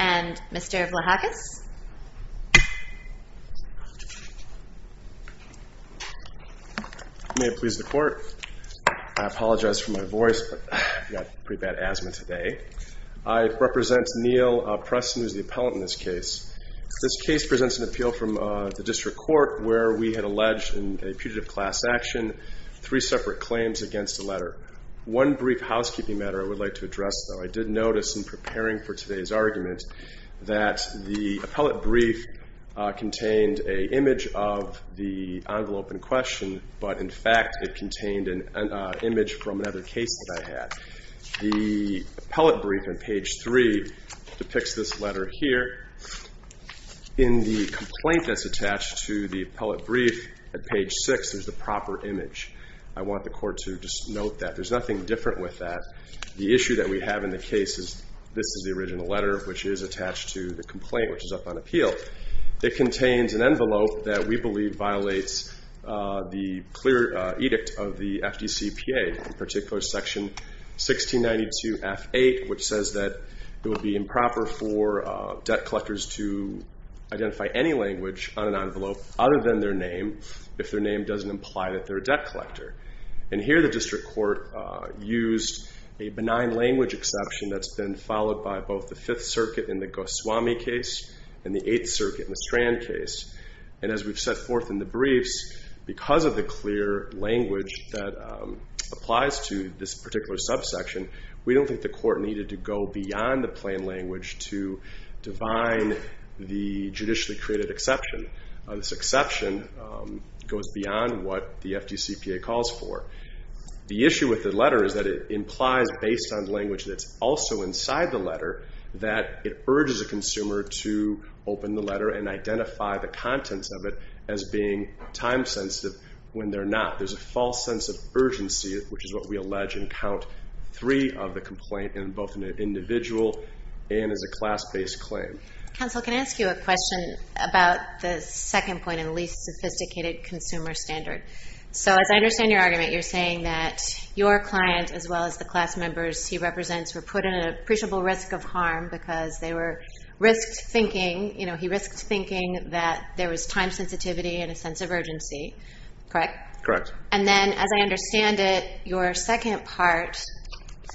and Mr. Vlahakis. May it please the court. I apologize for my voice. I've got pretty bad asthma today. I represent Neal Preston, who is the appellant in this case. This case presents an appeal from the district court where we had alleged in a putative class action three separate claims against a letter. One brief housekeeping matter I would like to address though. I did notice in preparing for today's argument that the appellate brief contained an image of the envelope in question, but in fact it contained an image from another case that I had. The appellate brief on page three depicts this letter here. In the complaint that's attached to the appellate brief at page six, there's the proper image. I want the court to just note that. There's nothing different with that. The issue that we have in the case is this is the original letter, which is attached to the complaint, which is up on appeal. It contains an envelope that we believe violates the clear edict of the FDCPA, in particular section 1692 F8, which says that it would be improper for debt collectors to identify any language on an envelope other than their name if their name doesn't imply that they're a debt collector. And here the district court used a benign language exception that's been followed by both the Fifth Circuit in the Goswami case and the Eighth Circuit in the Strand case. And as we've set forth in the briefs, because of the clear language that applies to this particular subsection, we don't think the court needed to go beyond the plain language to divine the judicially created exception. This exception goes beyond what the FDCPA calls for. The issue with the letter is that it implies based on language that's also inside the letter that it urges a consumer to open the letter and identify the contents of it as being time-sensitive when they're not. There's a false sense of urgency, which is what we allege in count three of the complaint in both an individual and as a class-based claim. Counsel, can I ask you a question about the second point in the least sophisticated consumer standard? So as I understand your argument, you're saying that your client, as well as the class members he represents, were put in an appreciable risk of harm because they were risked thinking, you know, he risked thinking that there was time sensitivity and a sense of urgency, correct? Correct. And then as I understand it, your second part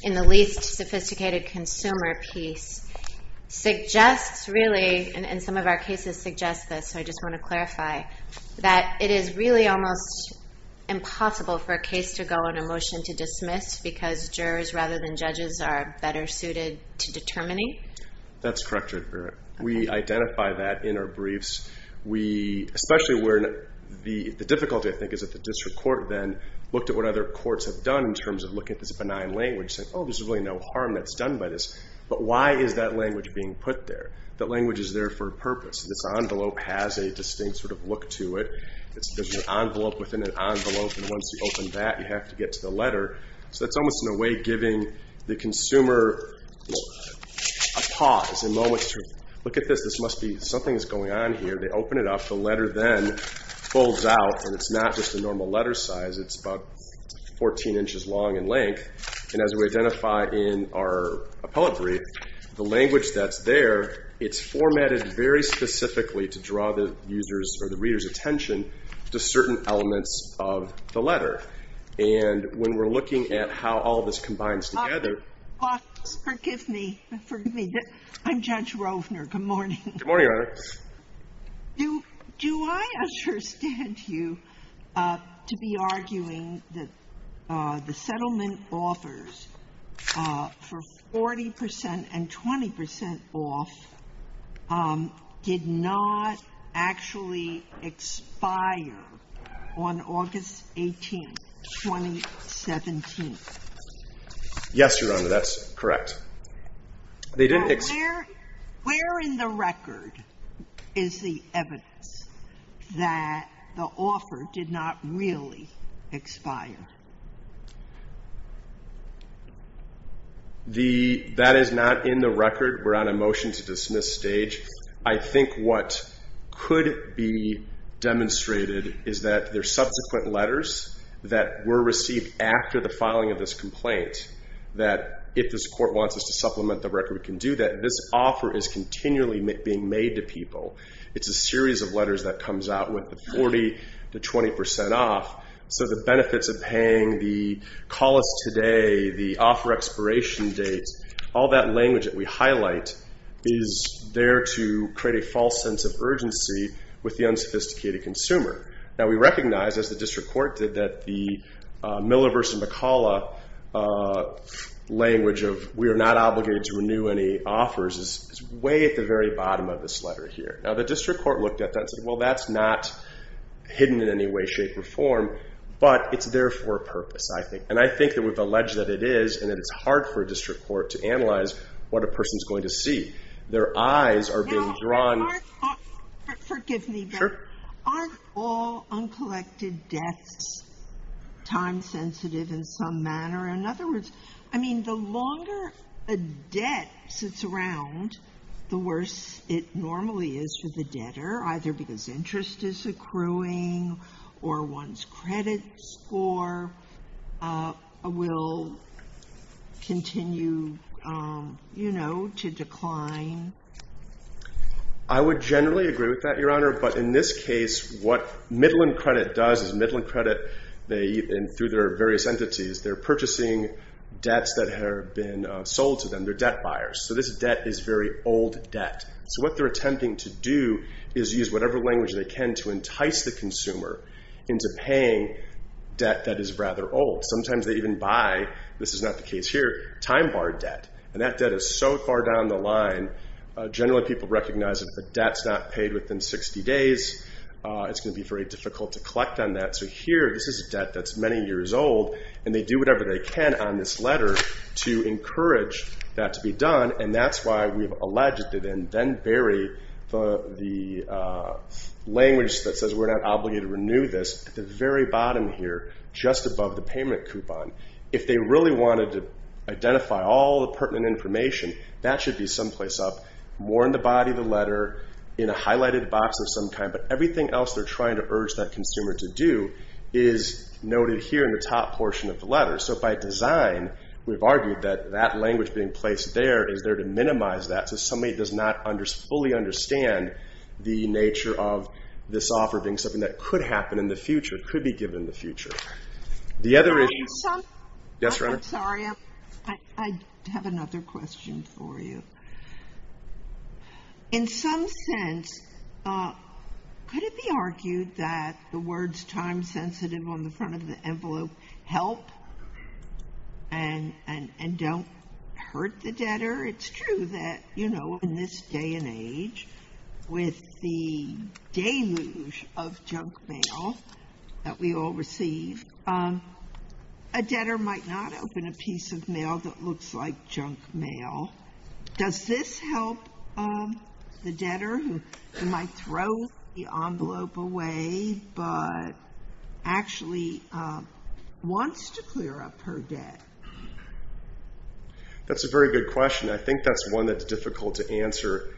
in the least sophisticated consumer piece suggests really, and some of our cases suggest this, so I just want to clarify, that it is really almost impossible for a case to go on a motion to dismiss because jurors rather than judges are better suited to determining? That's correct. We identify that in our briefs. We, especially where the difficulty I think is that the district court then looked at what other courts have done in terms of looking at this benign language saying, oh, there's really no harm that's done by this. But why is that language being put there? That language is there for a purpose. This envelope has a distinct sort of look to it. There's an envelope within an envelope and once you open that, you have to get to the letter. So that's almost in a way giving the consumer a pause, a moment to look at this, this must be, something is going on here. They open it up, the letter then folds out and it's not just a normal letter size, it's about 14 inches long in length. And as we identify in our appellate brief, the language that's there, it's formatted very specifically to draw the user's or the reader's attention to certain elements of the letter. And when we're looking at how all this combines together. Forgive me, forgive me. I'm Judge Rovner. Good morning. Good morning, Your Honor. Do I understand you to be arguing that the settlement offers for 40% and 20% off did not actually expire on August 18, 2017? Yes, Your Honor, that's correct. Where in the record is the evidence that the offer did not really expire? That is not in the record. We're on a motion to dismiss stage. I think what could be demonstrated is that there's subsequent letters that were received after the filing of this complaint that if this court wants us to supplement the record, we can do that. This offer is continually being made to people. It's a series of letters that comes out with the 40 to 20% off. So the benefits of paying the call us today, the offer expiration date, all that language that we highlight is there to create a false sense of urgency with the unsophisticated consumer. Now, we recognize, as the district court did, that the Miller v. McCullough language of we are not obligated to renew any offers is way at the very bottom of this letter here. Now, the district court looked at that and said, well, that's not hidden in any way, shape, or form, but it's there for a purpose, I think. And I think that we've alleged that it is and that it's hard for a district court to analyze what a person's going to see. Their eyes are being drawn. Forgive me, but aren't all uncollected debts time sensitive in some manner? In other words, I mean, the longer a debt sits around, the worse it normally is for the debtor, either because interest is accruing or one's credit score will continue to decline. I would generally agree with that, Your Honor. But in this case, what Midland Credit does is Midland Credit, through their various entities, they're purchasing debts that have been sold to them. They're debt buyers. So this debt is very old debt. So what they're attempting to do is use whatever language they can to entice the consumer into paying debt that is rather old. Sometimes they even buy, this is not the case here, time bar debt. And that debt is so far down the line, generally people recognize that if the debt's not paid within 60 days, it's going to be very difficult to collect on that. So here, this is debt that's many years old, and they do whatever they can on this letter to encourage that to be done. And that's why we've alleged it and then bury the language that says we're not obligated to renew this at the very bottom here, just above the payment coupon. If they really wanted to identify all the pertinent information, that should be someplace up, more in the body of the letter, in a highlighted box of some kind. But everything else they're trying to urge that consumer to do is noted here in the top portion of the letter. So by design, we've argued that that language being placed there is there to minimize that. So somebody does not fully understand the nature of this offer being something that could happen in the future, could be given in the future. Sorry, I have another question for you. In some sense, could it be argued that the words time sensitive on the front of the envelope help and don't hurt the debtor? It's true that in this day and age, with the deluge of junk mail that we all receive, a debtor might not open a piece of mail that looks like junk mail. Does this help the debtor who might throw the envelope away but actually wants to clear up her debt? That's a very good question. I think that's one that's difficult to answer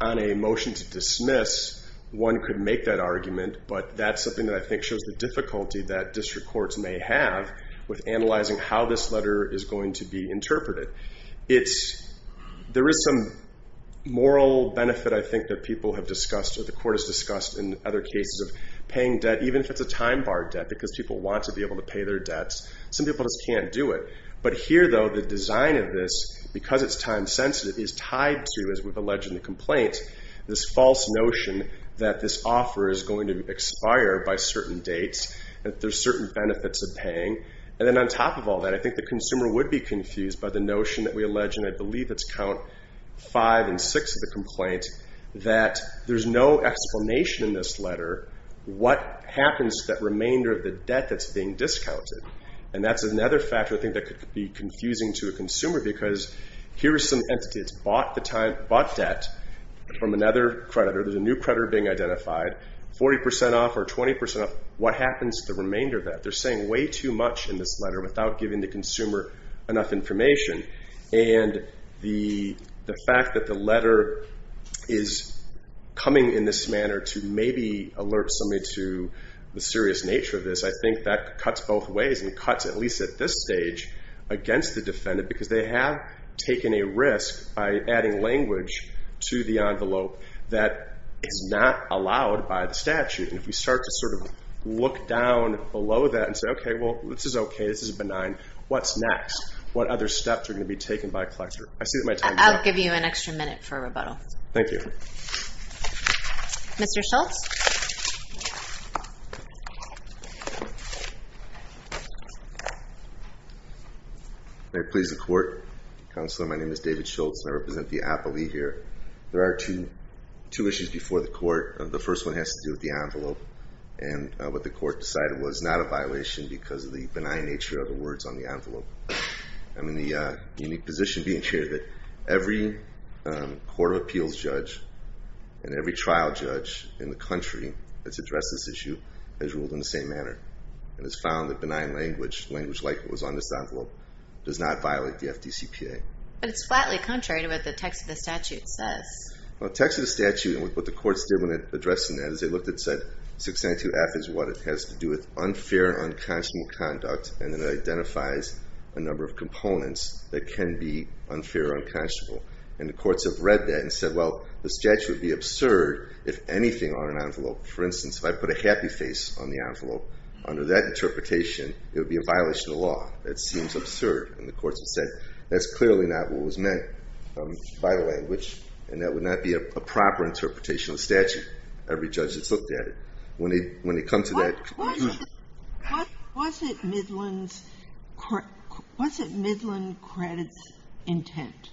on a motion to dismiss. One could make that argument, but that's something that I think shows the difficulty that district courts may have with analyzing how this letter is going to be interpreted. There is some moral benefit, I think, that people have discussed or the court has discussed in other cases of paying debt, even if it's a time-barred debt, because people want to be able to pay their debts. Some people just can't do it. But here, though, the design of this, because it's time sensitive, is tied to, as we've alleged in the complaint, this false notion that this offer is going to expire by certain dates, that there's certain benefits of paying. And then on top of all that, I think the consumer would be confused by the notion that we allege, and I believe it's count five and six of the complaint, that there's no explanation in this letter what happens to that remainder of the debt that's being discounted. And that's another factor I think that could be confusing to a consumer, because here is some entity that's bought debt from another creditor. There's a new creditor being identified, 40% off or 20% off. What happens to the remainder of that? They're saying way too much in this letter without giving the consumer enough information. And the fact that the letter is coming in this manner to maybe alert somebody to the serious nature of this, I think that cuts both ways and cuts, at least at this stage, against the defendant. Because they have taken a risk by adding language to the envelope that is not allowed by the statute. And if we start to sort of look down below that and say, okay, well, this is okay. This is benign. What's next? What other steps are going to be taken by a collector? I see that my time is up. I'll give you an extra minute for a rebuttal. Thank you. Mr. Schultz? May it please the Court? Counselor, my name is David Schultz, and I represent the appellee here. There are two issues before the Court. The first one has to do with the envelope. And what the Court decided was not a violation because of the benign nature of the words on the envelope. I'm in the unique position being here that every court of appeals judge and every trial judge in the country that's addressed this issue has ruled in the same manner and has found that benign language, language like what was on this envelope, does not violate the FDCPA. But it's flatly contrary to what the text of the statute says. Well, the text of the statute and what the courts did when addressing that is they looked and said, 692F is what it has to do with unfair and unconscionable conduct, and it identifies a number of components that can be unfair or unconscionable. And the courts have read that and said, well, the statute would be absurd if anything on an envelope. For instance, if I put a happy face on the envelope, under that interpretation, it would be a violation of the law. That seems absurd. And the courts have said that's clearly not what was meant by the language, and that would not be a proper interpretation of the statute. Every judge has looked at it. What was it Midland Credit's intent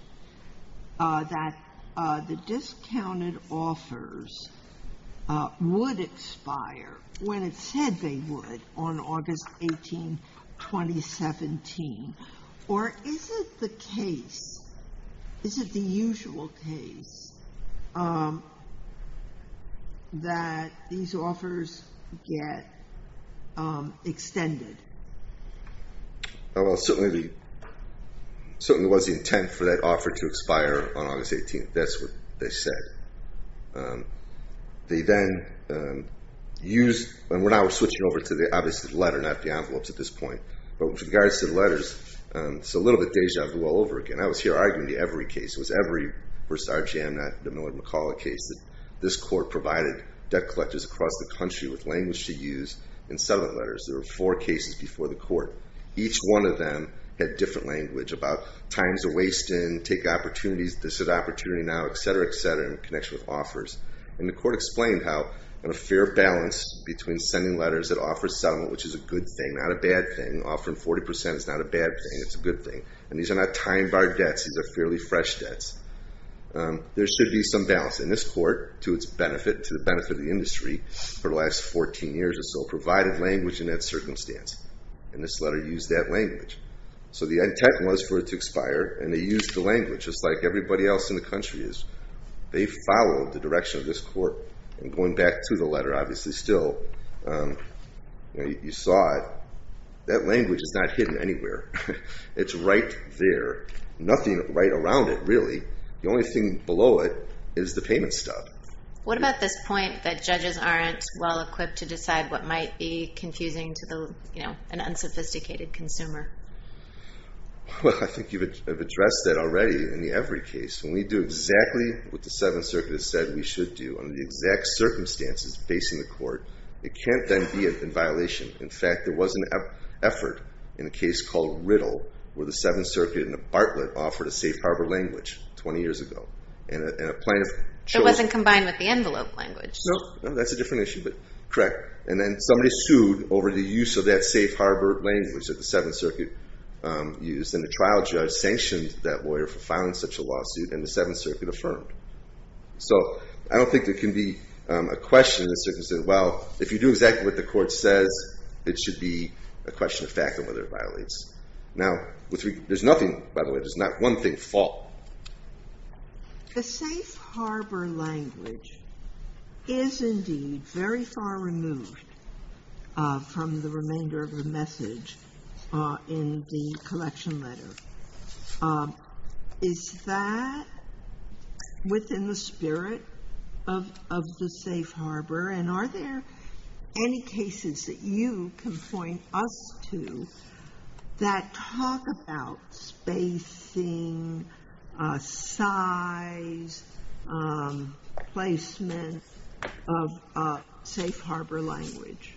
that the discounted offers would expire when it said they would on August 18, 2017? Or is it the case, is it the usual case, that these offers get extended? Well, it certainly was the intent for that offer to expire on August 18. That's what they said. They then used, and we're now switching over to the obvious letter, not the envelopes at this point. But with regards to the letters, it's a little bit deja vu all over again. I was here arguing the Every case. It was Every v. RGM, not the Millard McCullough case, that this court provided debt collectors across the country with language to use in settlement letters. There were four cases before the court. Each one of them had different language about times to waste in, take opportunities, this is an opportunity now, et cetera, et cetera, in connection with offers. And the court explained how in a fair balance between sending letters that offer settlement, which is a good thing, not a bad thing, offering 40% is not a bad thing, it's a good thing. And these are not time-barred debts. These are fairly fresh debts. There should be some balance. And this court, to the benefit of the industry, for the last 14 years or so, provided language in that circumstance. And this letter used that language. So the end tech was for it to expire, and they used the language, just like everybody else in the country is. They followed the direction of this court. And going back to the letter, obviously still, you saw it. That language is not hidden anywhere. It's right there. Nothing right around it, really. The only thing below it is the payment stub. What about this point that judges aren't well-equipped to decide what might be confusing to an unsophisticated consumer? Well, I think you've addressed that already in the Evry case. When we do exactly what the Seventh Circuit has said we should do under the exact circumstances facing the court, it can't then be in violation. In fact, there was an effort in a case called Riddle where the Seventh Circuit in a Bartlett offered a safe harbor language 20 years ago. It wasn't combined with the envelope language. No, that's a different issue, but correct. And then somebody sued over the use of that safe harbor language that the Seventh Circuit used. And the trial judge sanctioned that lawyer for filing such a lawsuit, and the Seventh Circuit affirmed. So I don't think there can be a question in this circumstance, well, if you do exactly what the court says, it should be a question of fact on whether it violates. Now, there's nothing, by the way, there's not one thing at fault. The safe harbor language is indeed very far removed from the remainder of the message in the collection letter. Is that within the spirit of the safe harbor? And are there any cases that you can point us to that talk about spacing, size, placement of safe harbor language?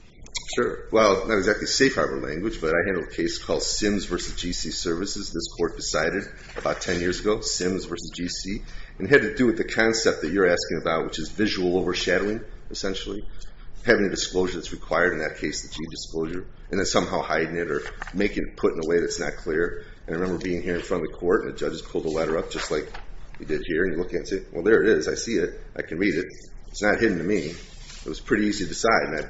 Sure. Well, not exactly safe harbor language, but I handle a case called Sims v. G.C. Services. This court decided about 10 years ago, Sims v. G.C., and it had to do with the concept that you're asking about, which is visual overshadowing, essentially. Having a disclosure that's required in that case, the G disclosure, and then somehow hiding it or making it put in a way that's not clear. I remember being here in front of the court, and a judge pulled a letter up just like he did here, and you look at it and say, well, there it is. I see it. I can read it. It's not hidden to me. It was pretty easy to decide,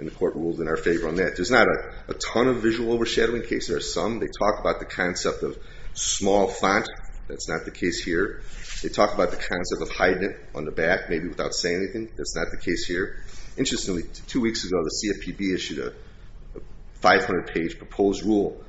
and the court ruled in our favor on that. There's not a ton of visual overshadowing cases. There are some. They talk about the concept of small font. That's not the case here. They talk about the concept of hiding it on the back, maybe without saying anything. That's not the case here. Interestingly, two weeks ago, the CFPB issued a 500-page proposed rulemaking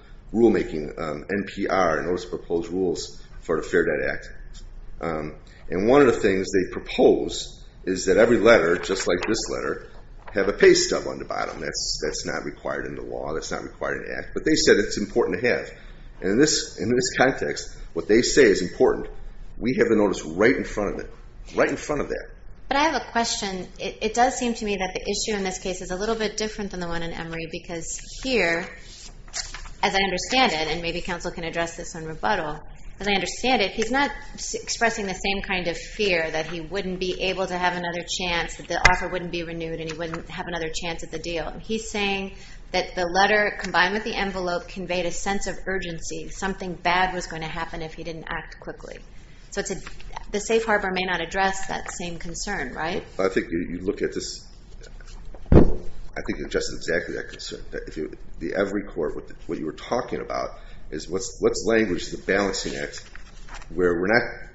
NPR, Notice of Proposed Rules for the Fair Debt Act. One of the things they propose is that every letter, just like this letter, have a pay stub on the bottom. That's not required in the law. That's not required in the act. But they said it's important to have. In this context, what they say is important. We have the notice right in front of it, right in front of that. But I have a question. It does seem to me that the issue in this case is a little bit different than the one in Emory, because here, as I understand it, and maybe counsel can address this in rebuttal, as I understand it, he's not expressing the same kind of fear that he wouldn't be able to have another chance, that the offer wouldn't be renewed, and he wouldn't have another chance at the deal. He's saying that the letter, combined with the envelope, conveyed a sense of urgency. Something bad was going to happen if he didn't act quickly. So the safe harbor may not address that same concern, right? I think you look at this. I think it addresses exactly that concern. The Emory Court, what you were talking about is what's language in the balancing act where we're not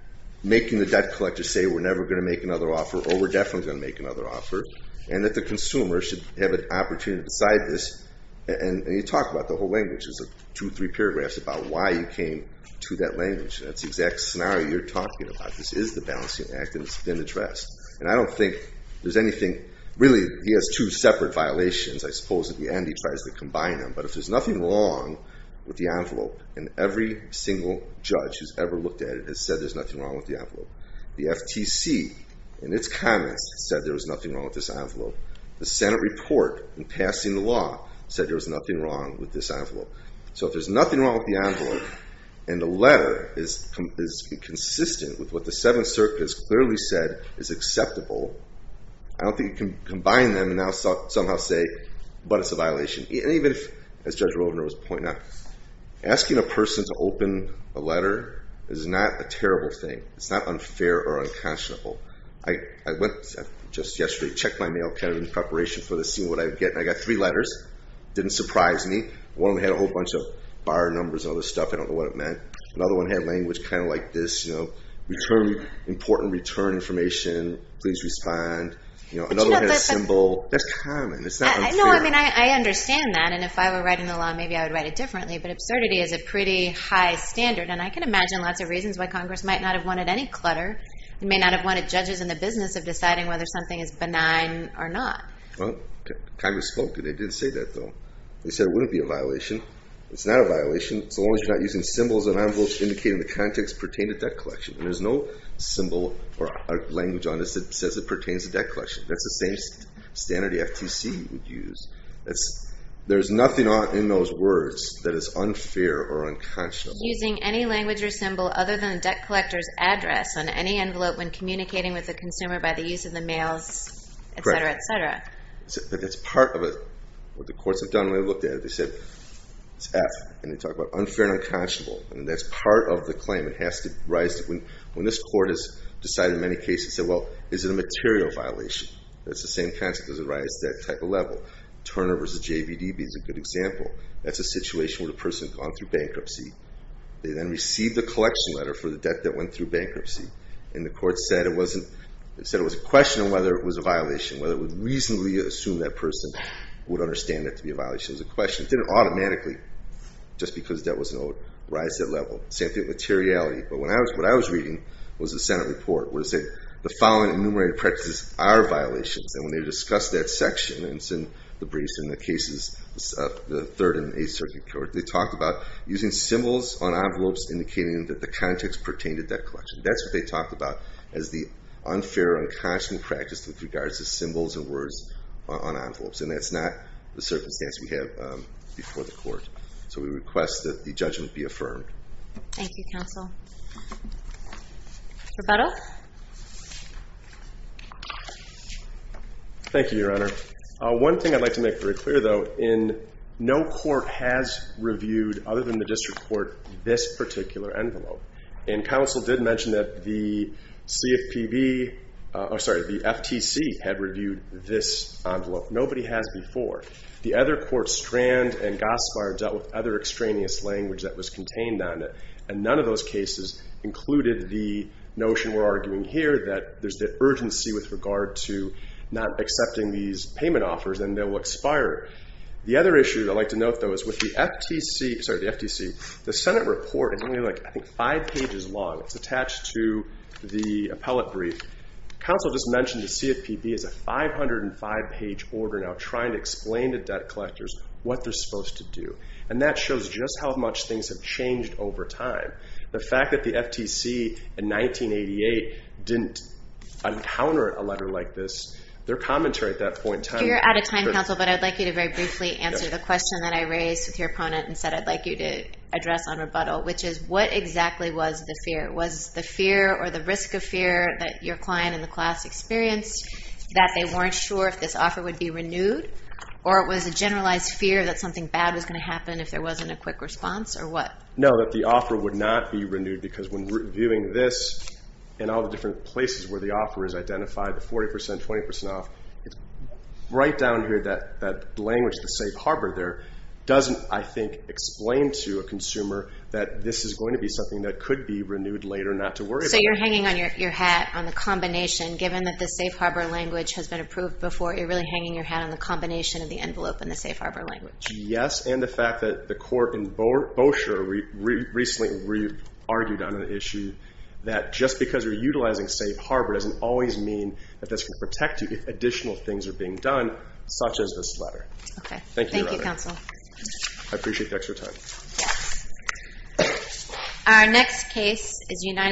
making the debt collector say we're never going to make another offer, or we're definitely going to make another offer, and that the consumer should have an opportunity to decide this. And you talk about the whole language. There's two, three paragraphs about why you came to that language. That's the exact scenario you're talking about. This is the balancing act, and it's been addressed. And I don't think there's anything really. He has two separate violations, I suppose, at the end. He tries to combine them, but if there's nothing wrong with the envelope, and every single judge who's ever looked at it has said there's nothing wrong with the envelope. The FTC, in its comments, said there was nothing wrong with this envelope. The Senate report, in passing the law, said there was nothing wrong with this envelope. So if there's nothing wrong with the envelope, and the letter is consistent with what the Seventh Circuit has clearly said is acceptable, I don't think you can combine them and now somehow say, but it's a violation. And even if, as Judge Roldner was pointing out, asking a person to open a letter is not a terrible thing. It's not unfair or unconscionable. I went just yesterday, checked my mail, kind of in preparation for this, seeing what I would get, and I got three letters. Didn't surprise me. One had a whole bunch of bar numbers and other stuff. I don't know what it meant. Another one had language kind of like this, you know, important return information, please respond. Another had a symbol. That's common. It's not unfair. No, I mean, I understand that, and if I were writing the law, maybe I would write it differently, but absurdity is a pretty high standard, and I can imagine lots of reasons why Congress might not have wanted any clutter. They may not have wanted judges in the business of deciding whether something is benign or not. Well, Congress spoke, and they did say that, though. They said it wouldn't be a violation. It's not a violation so long as you're not using symbols and envelopes indicating the context pertaining to debt collection, and there's no symbol or language on this that says it pertains to debt collection. That's the same standard the FTC would use. There's nothing in those words that is unfair or unconscionable. Using any language or symbol other than the debt collector's address on any envelope when communicating with the consumer by the use of the mails, et cetera, et cetera. Correct. But that's part of what the courts have done when they looked at it. They said it's F, and they talk about unfair and unconscionable, and that's part of the claim. It has to arise when this court has decided in many cases, well, is it a material violation? That's the same concept as it arises at that type of level. Turner v. JVDB is a good example. That's a situation where the person had gone through bankruptcy. They then received a collection letter for the debt that went through bankruptcy, and the court said it was a question of whether it was a violation, whether it would reasonably assume that person would understand that to be a violation. It was a question. It didn't automatically, just because debt wasn't owed, rise to that level. Same thing with materiality. But what I was reading was the Senate report where it said the following enumerated practices are violations, and when they discussed that section in the briefs in the cases of the Third and Eighth Circuit Court, they talked about using symbols on envelopes indicating that the context pertained to debt collection. That's what they talked about as the unfair, unconscionable practice with regards to symbols and words on envelopes, and that's not the circumstance we have before the court. So we request that the judgment be affirmed. Thank you, counsel. Roberto? Thank you, Your Honor. One thing I'd like to make very clear, though, in no court has reviewed, other than the district court, this particular envelope. And counsel did mention that the CFPB or, sorry, the FTC had reviewed this envelope. Nobody has before. The other courts, Strand and Gospar, dealt with other extraneous language that was contained on it, and none of those cases included the notion we're arguing here that there's the urgency with regard to not accepting these payment offers, and they will expire. The other issue I'd like to note, though, is with the FTC, sorry, the FTC, the Senate report is only like, I think, five pages long. It's attached to the appellate brief. Counsel just mentioned the CFPB is a 505-page order now trying to explain to debt collectors what they're supposed to do, and that shows just how much things have changed over time. The fact that the FTC in 1988 didn't encounter a letter like this, their commentary at that point in time. You're out of time, counsel, but I'd like you to very briefly answer the question that I raised with your opponent and said I'd like you to address on rebuttal, which is what exactly was the fear? That your client in the class experienced that they weren't sure if this offer would be renewed, or it was a generalized fear that something bad was going to happen if there wasn't a quick response, or what? No, that the offer would not be renewed because when reviewing this and all the different places where the offer is identified, the 40%, 20% off, right down here, that language, the safe harbor there, doesn't, I think, explain to a consumer that this is going to be something that could be renewed later not to worry about. So you're hanging on your hat on the combination. Given that the safe harbor language has been approved before, you're really hanging your hat on the combination of the envelope and the safe harbor language. Yes, and the fact that the court in Bossier recently re-argued on an issue that just because you're utilizing safe harbor doesn't always mean that this will protect you if additional things are being done, such as this letter. Okay, thank you, counsel. I appreciate the extra time. Our next case is United.